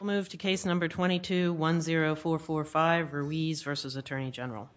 We will move to Case No. 22-10445, Ruiz v. U.S. Attorney General.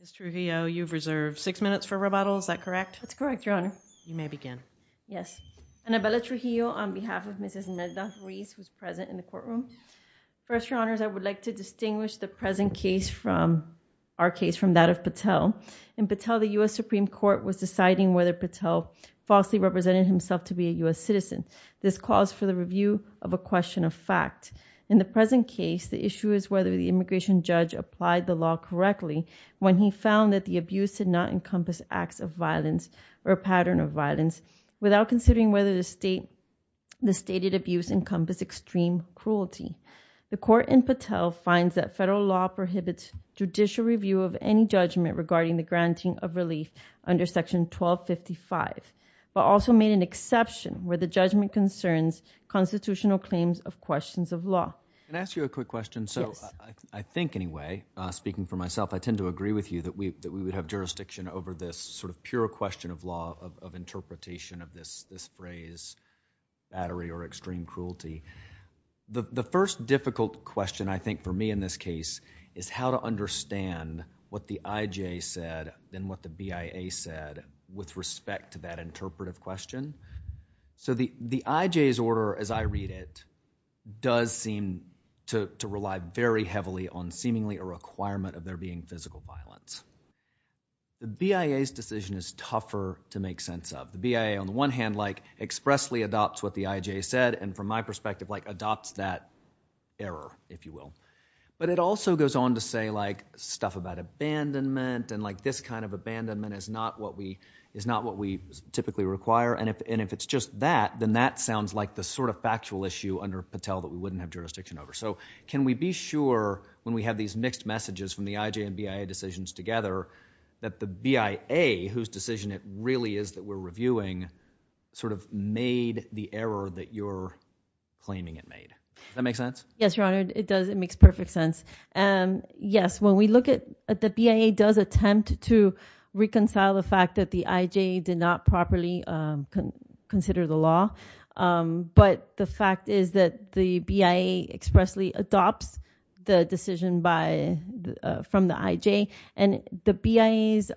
Ms. Trujillo, you have reserved six minutes for rebuttal. Is that correct? That's correct, Your Honor. You may begin. Yes. Annabella Trujillo on behalf of Ms. Melinda Ruiz, who is present in the courtroom. First, Your Honors, I would like to distinguish the present case from our case, from that of Patel. In Patel, the U.S. Supreme Court was deciding whether Patel falsely represented himself to be a U.S. citizen. This calls for the review of a question of fact. In the present case, the issue is whether the immigration judge applied the law correctly when he found that the abuse did not encompass acts of violence or a pattern of violence without considering whether the stated abuse encompassed extreme cruelty. The court in Patel finds that federal law prohibits judicial review of any judgment regarding the granting of relief under Section 1255, but also made an exception where the judgment concerns constitutional claims of questions of law. Can I ask you a quick question? Yes. I think, anyway, speaking for myself, I tend to agree with you that we would have jurisdiction over this sort of pure question of law of interpretation of this phrase, battery or extreme cruelty. The first difficult question, I think, for me in this case is how to understand what the IJ said and what the BIA said with respect to that interpretive question. The IJ's order, as I read it, does seem to rely very heavily on seemingly a requirement of there being physical violence. The BIA's decision is tougher to make sense of. The BIA, on the one hand, expressly adopts what the IJ said and, from my perspective, adopts that error, if you will. It also goes on to say stuff about abandonment and this kind of abandonment is not what we typically require. If it's just that, then that sounds like the sort of factual issue under Patel that we wouldn't have jurisdiction over. Can we be sure, when we have these mixed messages from the IJ and BIA decisions together, that the BIA, whose decision it really is that we're reviewing, sort of made the error that you're claiming it made? Does that make sense? Yes, Your Honor. It does. It makes perfect sense. Yes, when we look at the BIA does attempt to reconcile the fact that the IJ did not properly consider the law, but the fact is that the BIA expressly adopts the decision from the IJ and the BIA's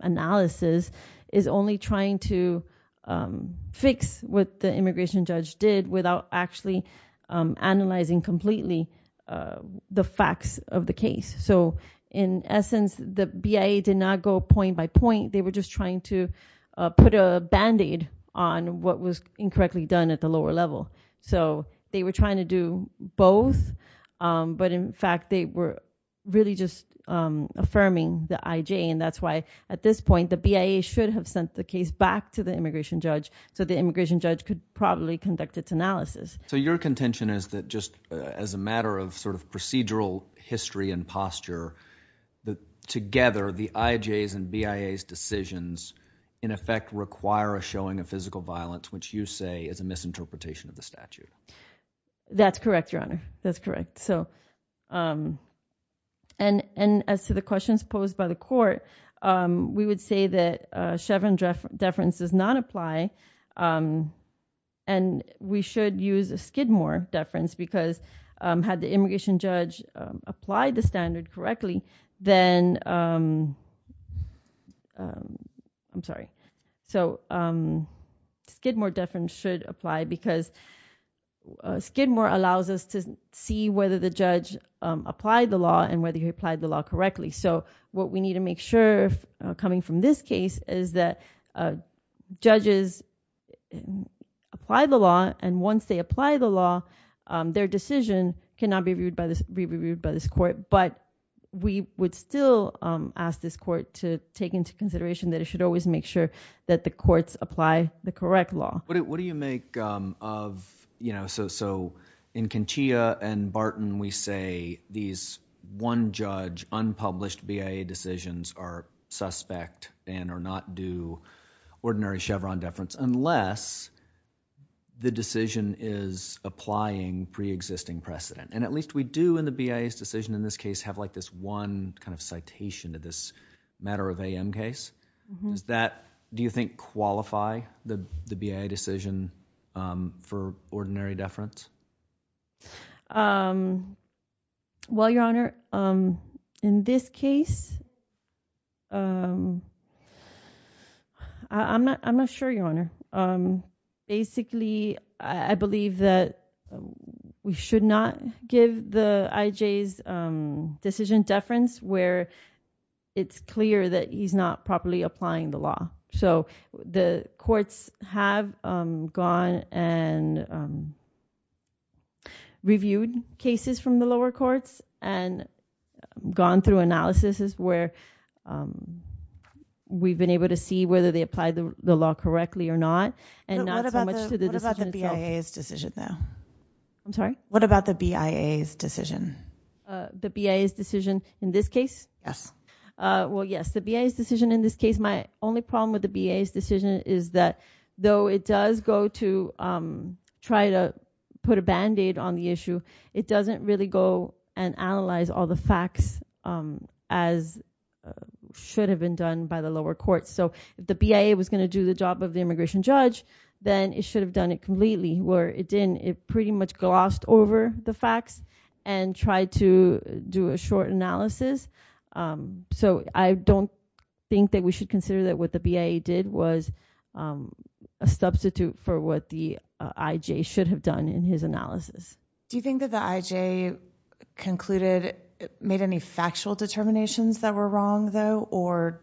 analysis is only trying to fix what the immigration judge did without actually analyzing completely the facts of the case. In essence, the BIA did not go point by point. They were just trying to put a band-aid on what was incorrectly done at the lower level. They were trying to do both, but in fact, they were really just affirming the IJ. That's why, at this point, the BIA should have sent the case back to the immigration judge so the immigration judge could probably conduct its analysis. Your contention is that just as a matter of sort of procedural history and posture, together the IJ's and BIA's decisions, in effect, require a showing of physical violence, which you say is a misinterpretation of the statute. That's correct, Your Honor. That's correct. As to the questions posed by the court, we would say that Chevron deference does not apply and we should use a Skidmore deference because had the immigration judge applied the standard correctly, then Skidmore deference should apply because Skidmore allows us to see whether the judge applied the law and whether he applied the law correctly. What we need to make sure, coming from this case, is that judges apply the law and once they apply the law, their decision cannot be reviewed by this court. We would still ask this court to take into consideration that it should always make sure that the courts apply the correct law. What do you make of... In Conchia and Barton, we say these one-judge, unpublished BIA decisions are suspect and are not due ordinary Chevron deference unless the decision is applying pre-existing precedent. At least we do in the BIA's decision in this case have this one citation of this matter of AM case. Does that, do you think, qualify the BIA decision for ordinary deference? Well, Your Honor, in this case, I'm not sure, Your Honor. Basically, I believe that we should not give the IJ's decision deference where it's clear that he's not properly applying the law. So, the courts have gone and reviewed cases from the lower courts and gone through analysis where we've been able to see whether they applied the law correctly or not and not so much to the decision itself. What about the BIA's decision, though? I'm sorry? What about the BIA's decision? The BIA's decision in this case? Yes. Well, yes. The BIA's decision in this case, my only problem with the BIA's decision is that though it does go to try to put a band-aid on the issue, it doesn't really go and analyze all the facts as should have been done by the lower courts. So, if the BIA was going to do the job of the immigration judge, then it should have done it completely where it didn't. It pretty much glossed over the facts and tried to do a short analysis. So, I don't think that we should consider that what the BIA did was a substitute for what the IJ should have done in his analysis. Do you think that the IJ concluded, made any factual determinations that were wrong, though, or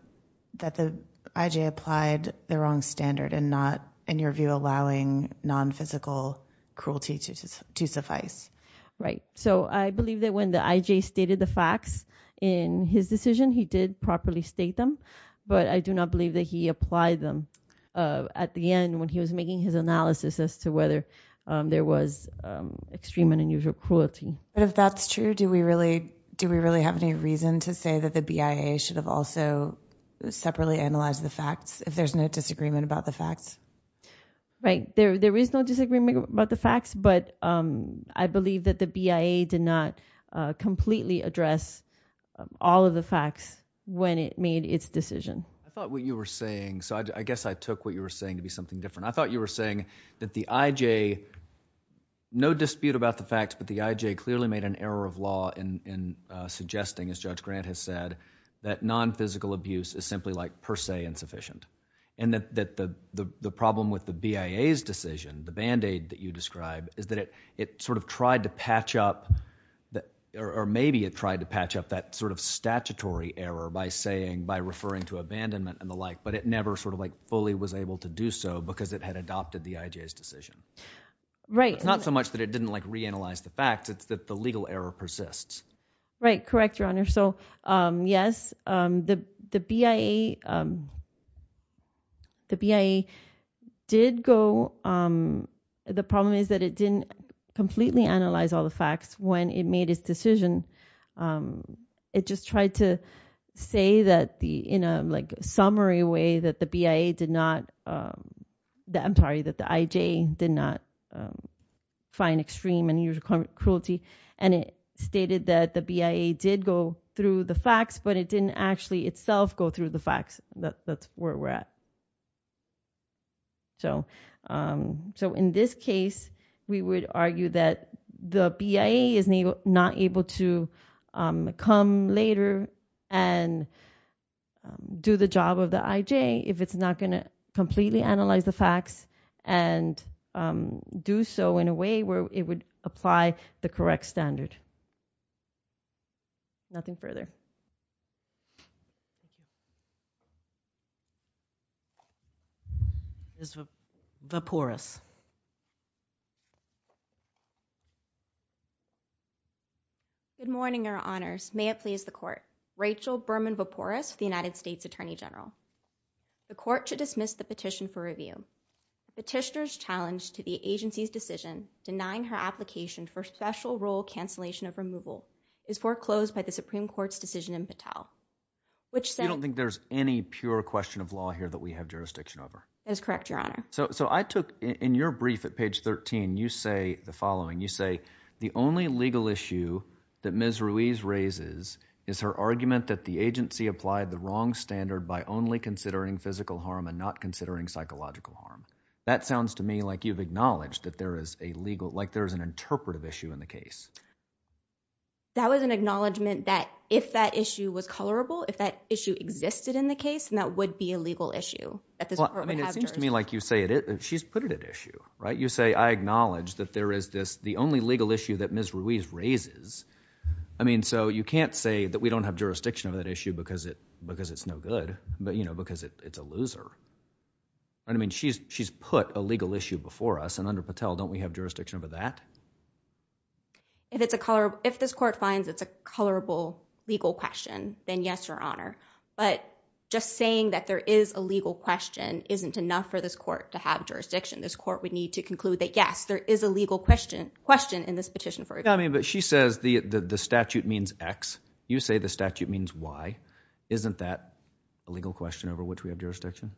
that the IJ applied the wrong standard and not, in your view, allowing non-physical cruelty to suffice? Right. So, I believe that when the IJ stated the facts in his decision, he did properly state them, but I do not believe that he applied them at the end when he was making his analysis as to whether there was extreme and unusual cruelty. But if that's true, do we really have any reason to say that the BIA should have also separately analyzed the facts if there's no disagreement about the facts? Right. There is no disagreement about the facts, but I believe that the BIA did not completely address all of the facts when it made its decision. I thought what you were saying, so I guess I took what you were saying to be something different. I thought you were saying that the IJ, no dispute about the facts, but the IJ clearly made an error of law in suggesting, as Judge Grant has said, that non-physical abuse is simply like per se insufficient, and that the problem with the BIA's decision, the Band-Aid that you describe, is that it sort of tried to patch up, or maybe it tried to patch up that sort of statutory error by saying, by referring to abandonment and the like, but it never sort of like fully was able to do so because it had adopted the IJ's decision. Right. It's not so much that it didn't like reanalyze the facts, it's that the legal error persists. Right, correct, Your Honor. So yes, the BIA did go, the problem is that it didn't completely analyze all the facts when it made its decision. It just tried to say that in a like summary way that the BIA did not, I'm sorry, that the IJ did not find extreme and unusual cruelty, and it stated that the BIA did go through the facts, but it didn't actually itself go through the facts. That's where we're at. So in this case, we would argue that the BIA is not able to come later and do the job of the IJ if it's not going to completely analyze the facts and do so in a way where it would apply the correct standard. Ms. Vopouris. Good morning, Your Honors. May it please the Court. Rachel Berman Vopouris with the United States Attorney General. The Court should dismiss the petition for review. The petitioner's challenge to the agency's decision denying her application for special role cancellation of removal is foreclosed by the Supreme Court's decision in Patel, which said... You don't think there's any pure question of law here that we have jurisdiction over? That is correct, Your Honor. So I took, in your brief at page 13, you say the following. You say, the only legal issue that Ms. Ruiz raises is her argument that the agency applied the wrong standard by only considering physical harm and not considering psychological harm. That sounds to me like you've acknowledged that there is a legal, like there is an interpretive issue in the case. That was an acknowledgment that if that issue was colorable, if that issue existed in the case, then that would be a legal issue. Well, I mean, it seems to me like you say, she's put it at issue, right? You say, I acknowledge that there is this, the only legal issue that Ms. Ruiz raises, I mean, so you can't say that we don't have jurisdiction over that issue because it's no good, but, you know, because it's a loser, right? I mean, she's put a legal issue before us, and under Patel, don't we have jurisdiction over that? If this court finds it's a colorable legal question, then yes, Your Honor, but just saying that there is a legal question isn't enough for this court to have jurisdiction. This court would need to conclude that, yes, there is a legal question in this petition for example. I mean, but she says the statute means X. You say the statute means Y. Isn't that a legal question over which we have jurisdiction?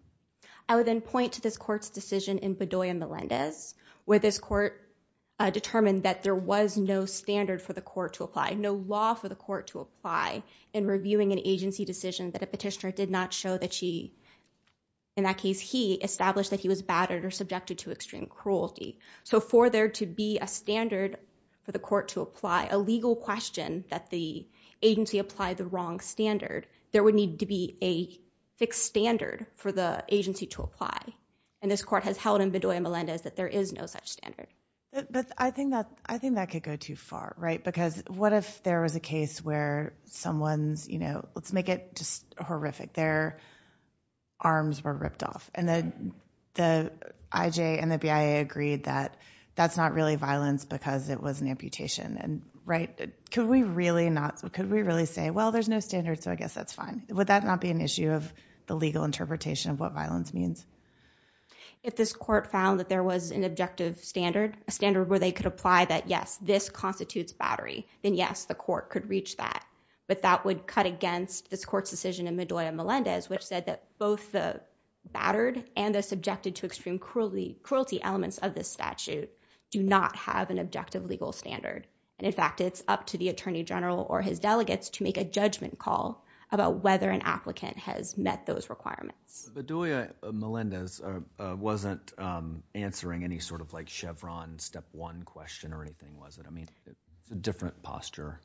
I would then point to this court's decision in Bedoya-Melendez, where this court determined that there was no standard for the court to apply, no law for the court to apply in reviewing an agency decision that a petitioner did not show that she, in that case he, established that he was battered or subjected to extreme cruelty. So for there to be a standard for the court to apply a legal question that the agency applied the wrong standard, there would need to be a fixed standard for the agency to apply. And this court has held in Bedoya-Melendez that there is no such standard. But I think that could go too far, right? Because what if there was a case where someone's, you know, let's make it just horrific, their arms were ripped off. And the IJ and the BIA agreed that that's not really violence because it was an amputation. And right, could we really not, could we really say, well, there's no standard, so I guess that's fine? Would that not be an issue of the legal interpretation of what violence means? If this court found that there was an objective standard, a standard where they could apply that, yes, this constitutes battery, then yes, the court could reach that. But that would cut against this court's decision in Bedoya-Melendez, which said that both the battered and the subjected to extreme cruelty elements of this statute do not have an objective legal standard. And in fact, it's up to the attorney general or his delegates to make a judgment call about whether an applicant has met those requirements. Bedoya-Melendez wasn't answering any sort of like Chevron step one question or anything, was it? I mean, it's a different posture.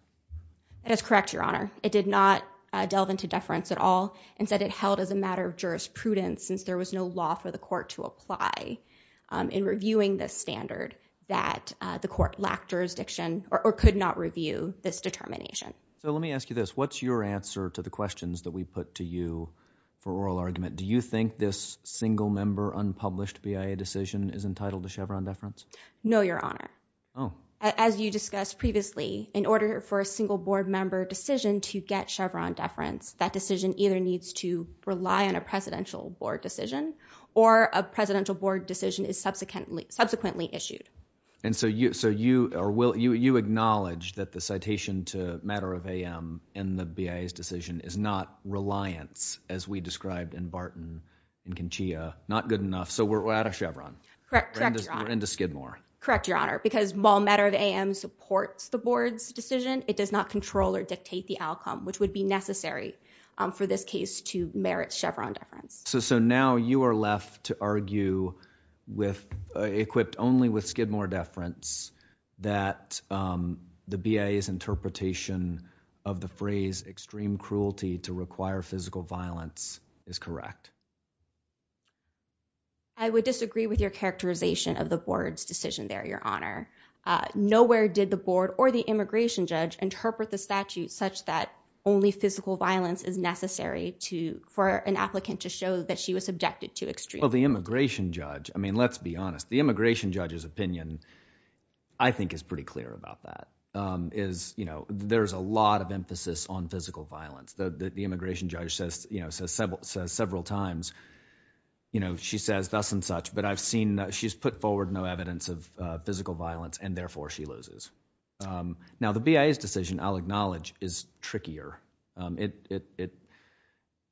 It is correct, Your Honor. It did not delve into deference at all. Instead, it held as a matter of jurisprudence, since there was no law for the court to apply in reviewing this standard, that the court lacked jurisdiction or could not review this determination. So let me ask you this. What's your answer to the questions that we put to you for oral argument? Do you think this single member unpublished BIA decision is entitled to Chevron deference? No, Your Honor. As you discussed previously, in order for a single board member decision to get Chevron deference, that decision either needs to rely on a presidential board decision or a presidential board decision is subsequently issued. And so you acknowledge that the citation to Matter of AM in the BIA's decision is not reliance, as we described in Barton and Conchia, not good enough. So we're out of Chevron. Correct. Correct, Your Honor. We're into Skidmore. Correct, Your Honor. Because while Matter of AM supports the board's decision, it does not control or dictate the discretion necessary for this case to merit Chevron deference. So now you are left to argue equipped only with Skidmore deference that the BIA's interpretation of the phrase extreme cruelty to require physical violence is correct. I would disagree with your characterization of the board's decision there, Your Honor. Nowhere did the board or the immigration judge interpret the statute such that only physical violence is necessary to, for an applicant to show that she was subjected to extreme cruelty. Well, the immigration judge, I mean, let's be honest, the immigration judge's opinion, I think is pretty clear about that, is, you know, there's a lot of emphasis on physical violence. The immigration judge says, you know, several times, you know, she says thus and such, but I've seen that she's put forward no evidence of physical violence and therefore she loses. Now the BIA's decision, I'll acknowledge, is trickier. It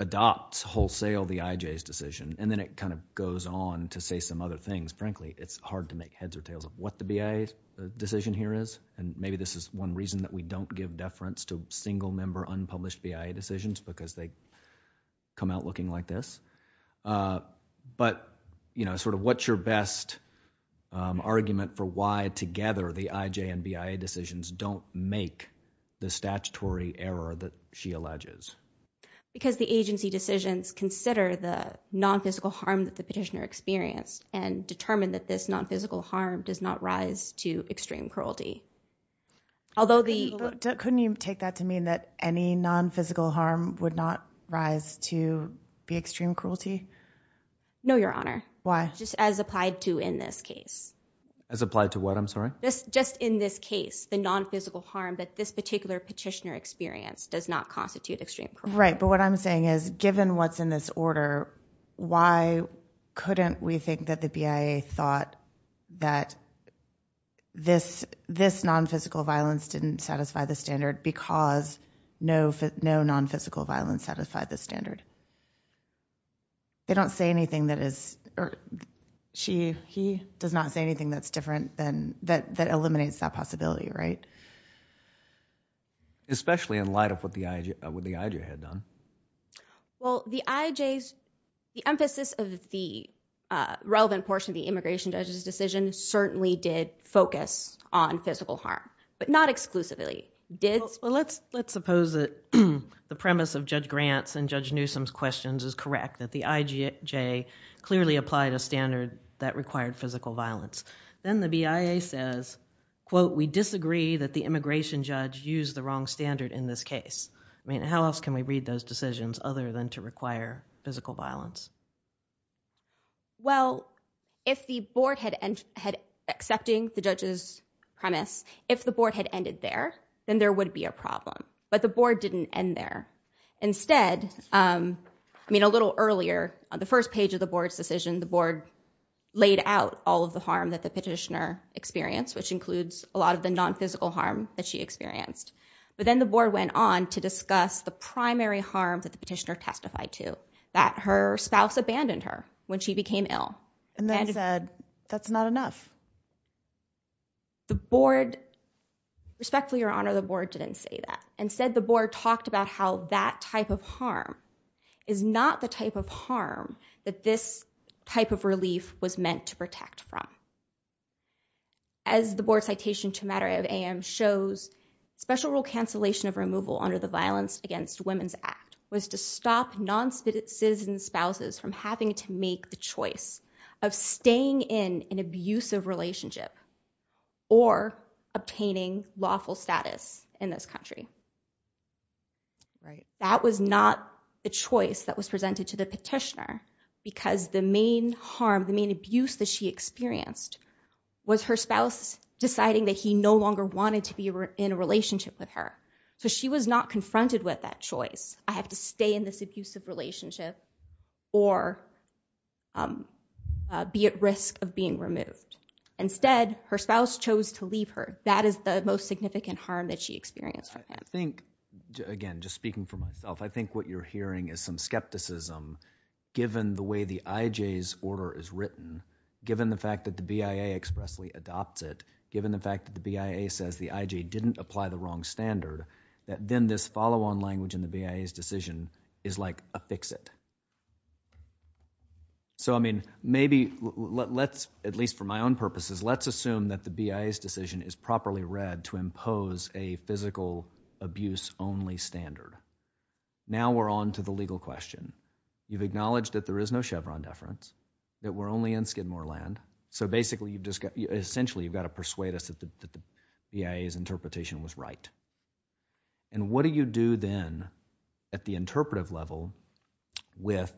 adopts wholesale the IJ's decision and then it kind of goes on to say some other things. Frankly, it's hard to make heads or tails of what the BIA's decision here is and maybe this is one reason that we don't give deference to single member unpublished BIA decisions because they come out looking like this. But, you know, sort of what's your best argument for why together the IJ and BIA decisions don't make the statutory error that she alleges? Because the agency decisions consider the non-physical harm that the petitioner experienced and determine that this non-physical harm does not rise to extreme cruelty. Although the- Do you take that to mean that any non-physical harm would not rise to be extreme cruelty? No your honor. Why? Just as applied to in this case. As applied to what? I'm sorry? Just in this case. The non-physical harm that this particular petitioner experienced does not constitute extreme cruelty. Right. But what I'm saying is given what's in this order, why couldn't we think that the BIA thought that this non-physical violence didn't satisfy the standard because no non-physical violence satisfied the standard? They don't say anything that is- or she, he does not say anything that's different than- that eliminates that possibility, right? Especially in light of what the IJ had done. Well, the IJ's- the emphasis of the relevant portion of the immigration judge's decision certainly did focus on physical harm. But not exclusively. Did- Well, let's suppose that the premise of Judge Grant's and Judge Newsom's questions is correct, that the IJ clearly applied a standard that required physical violence. Then the BIA says, quote, we disagree that the immigration judge used the wrong standard in this case. I mean, how else can we read those decisions other than to require physical violence? Well, if the board had- had accepting the judge's premise, if the board had ended there, then there would be a problem. But the board didn't end there. Instead, I mean, a little earlier on the first page of the board's decision, the board laid out all of the harm that the petitioner experienced, which includes a lot of the non-physical harm that she experienced. But then the board went on to discuss the primary harm that the petitioner testified to, that her spouse abandoned her when she became ill. And then said, that's not enough. The board- respectfully, Your Honor, the board didn't say that. Instead, the board talked about how that type of harm is not the type of harm that this type of relief was meant to protect from. As the board's citation to matter of AM shows, special rule cancellation of removal under the Violence Against Women's Act was to stop non-citizen spouses from having to make the choice of staying in an abusive relationship or obtaining lawful status in this country. Right. That was not the choice that was presented to the petitioner because the main harm, the main abuse that she experienced was her spouse deciding that he no longer wanted to be in a relationship with her. So she was not confronted with that choice. I have to stay in this abusive relationship or be at risk of being removed. Instead, her spouse chose to leave her. That is the most significant harm that she experienced from him. I think, again, just speaking for myself, I think what you're hearing is some skepticism given the way the IJ's order is written, given the fact that the BIA expressly adopts it, given the fact that the BIA says the IJ didn't apply the wrong standard, that then this follow-on language in the BIA's decision is like a fix it. So I mean, maybe let's, at least for my own purposes, let's assume that the BIA's decision is properly read to impose a physical abuse only standard. Now we're on to the legal question. You've acknowledged that there is no Chevron deference, that we're only in Skidmore land. So basically, essentially, you've got to persuade us that the BIA's interpretation was right. And what do you do then at the interpretive level with,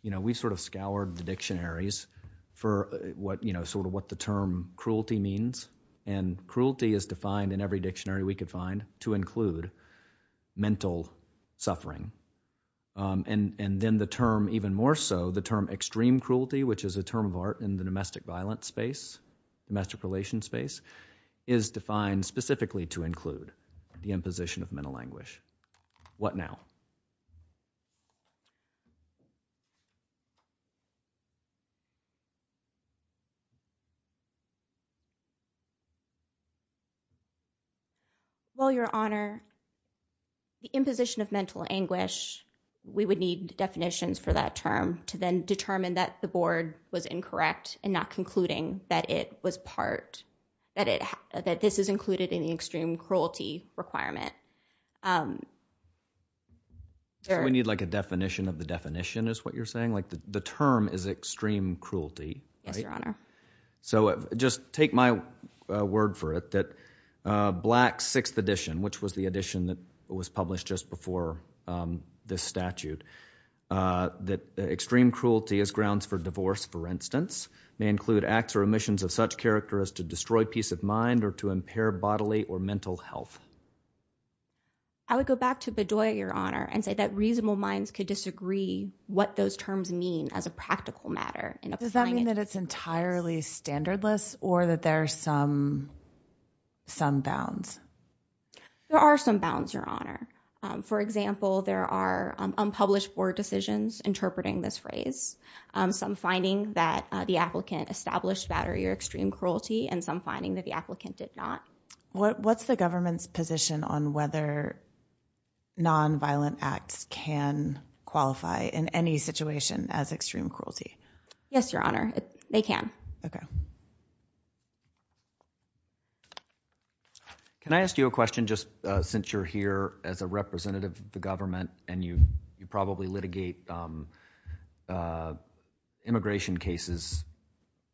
you know, we sort of scoured the dictionaries for what, you know, sort of what the term cruelty means. And cruelty is defined in every dictionary we could find to include mental suffering. And then the term even more so, the term extreme cruelty, which is a term of art in the domestic violence space, domestic relations space, is defined specifically to include the imposition of mental anguish. What now? Well, Your Honor, the imposition of mental anguish, we would need definitions for that term to then determine that the board was incorrect and not concluding that it was part, that it, that this is included in the extreme cruelty requirement. So we need like a definition of the definition is what you're saying? Like the term is extreme cruelty, right? Yes, Your Honor. So just take my word for it that Black's sixth edition, which was the edition that was published just before this statute, that extreme cruelty is grounds for divorce, for instance, may destroy peace of mind or to impair bodily or mental health. I would go back to Bedoya, Your Honor, and say that reasonable minds could disagree what those terms mean as a practical matter. Does that mean that it's entirely standardless or that there are some, some bounds? There are some bounds, Your Honor. For example, there are unpublished board decisions interpreting this phrase. Some finding that the applicant established battery or extreme cruelty and some finding that the applicant did not. What's the government's position on whether nonviolent acts can qualify in any situation as extreme cruelty? Yes, Your Honor. They can. Okay. Can I ask you a question just since you're here as a representative of the government and you probably litigate immigration cases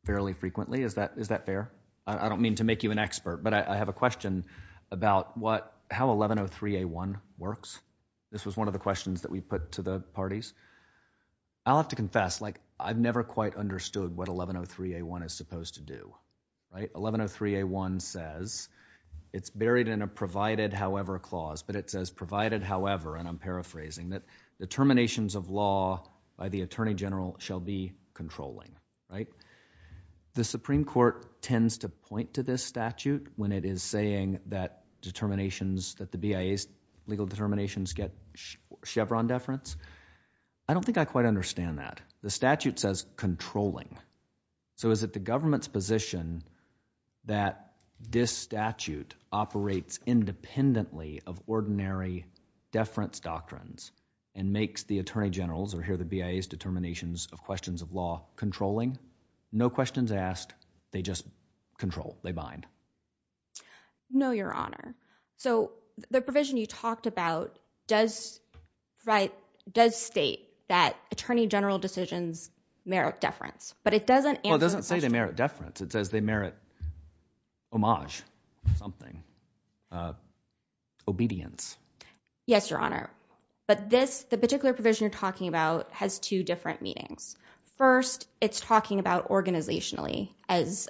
fairly frequently, is that fair? I don't mean to make you an expert, but I have a question about what, how 1103A1 works. This was one of the questions that we put to the parties. I'll have to confess, like, I've never quite understood what 1103A1 is supposed to do, right? 1103A1 says, it's buried in a provided however clause, but it says provided however, and I'm paraphrasing, that the terminations of law by the attorney general shall be controlling, right? The Supreme Court tends to point to this statute when it is saying that determinations, that the BIA's legal determinations get Chevron deference. I don't think I quite understand that. The statute says controlling. So is it the government's position that this statute operates independently of ordinary deference doctrines and makes the attorney generals, or here the BIA's determinations of questions of law, controlling? No questions asked, they just control, they bind. No, your honor. So the provision you talked about does state that attorney general decisions merit deference, but it doesn't answer the question. Well, it doesn't say they merit deference. It says they merit homage, something, obedience. Yes, your honor. But this, the particular provision you're talking about, has two different meanings. First, it's talking about organizationally, as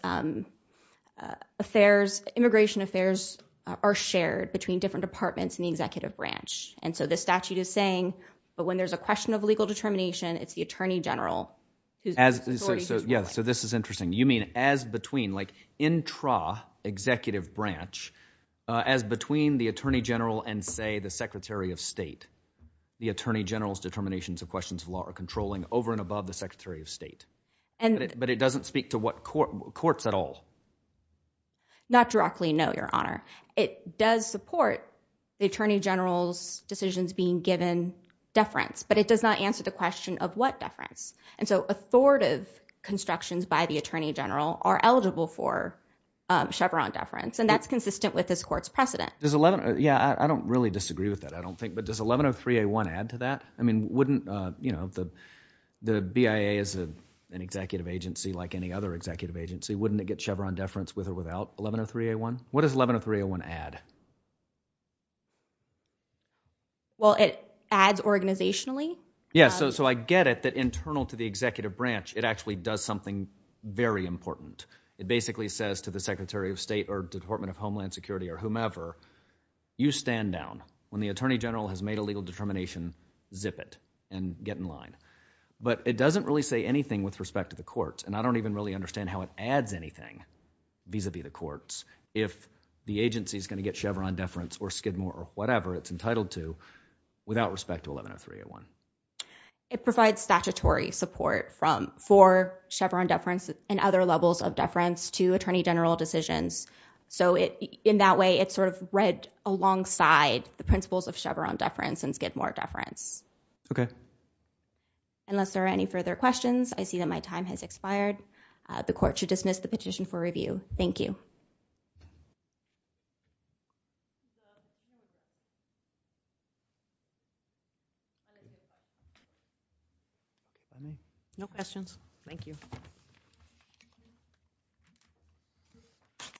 affairs, immigration affairs are shared between different departments in the executive branch. And so the statute is saying, but when there's a question of legal determination, it's the attorney general. Yeah, so this is interesting. You mean as between, like intra-executive branch, as between the attorney general and, say, the secretary of state. The attorney general's determinations of questions of law are controlling over and above the secretary of state. But it doesn't speak to courts at all. Not directly, no, your honor. It does support the attorney general's decisions being given deference, but it does not answer the question of what deference. And so authoritative constructions by the attorney general are eligible for Chevron deference. And that's consistent with this court's precedent. Does 11, yeah, I don't really disagree with that, I don't think, but does 1103A1 add to that? I mean, wouldn't, you know, the BIA is an executive agency like any other executive agency. Wouldn't it get Chevron deference with or without 1103A1? What does 1103A1 add? Well, it adds organizationally. Yeah, so I get it that internal to the executive branch, it actually does something very important. It basically says to the secretary of state or department of homeland security or whomever, you stand down. When the attorney general has made a legal determination, zip it and get in line. But it doesn't really say anything with respect to the courts, and I don't even really understand how it adds anything vis-a-vis the courts if the agency's going to get Chevron deference or Skidmore or whatever it's entitled to without respect to 1103A1. It provides statutory support for Chevron deference and other levels of deference to attorney general decisions. So in that way, it's sort of read alongside the principles of Chevron deference and Skidmore deference. Okay. Unless there are any further questions, I see that my time has expired. The court should dismiss the petition for review. Thank you. Thank you. Thank you. Thank you. No questions?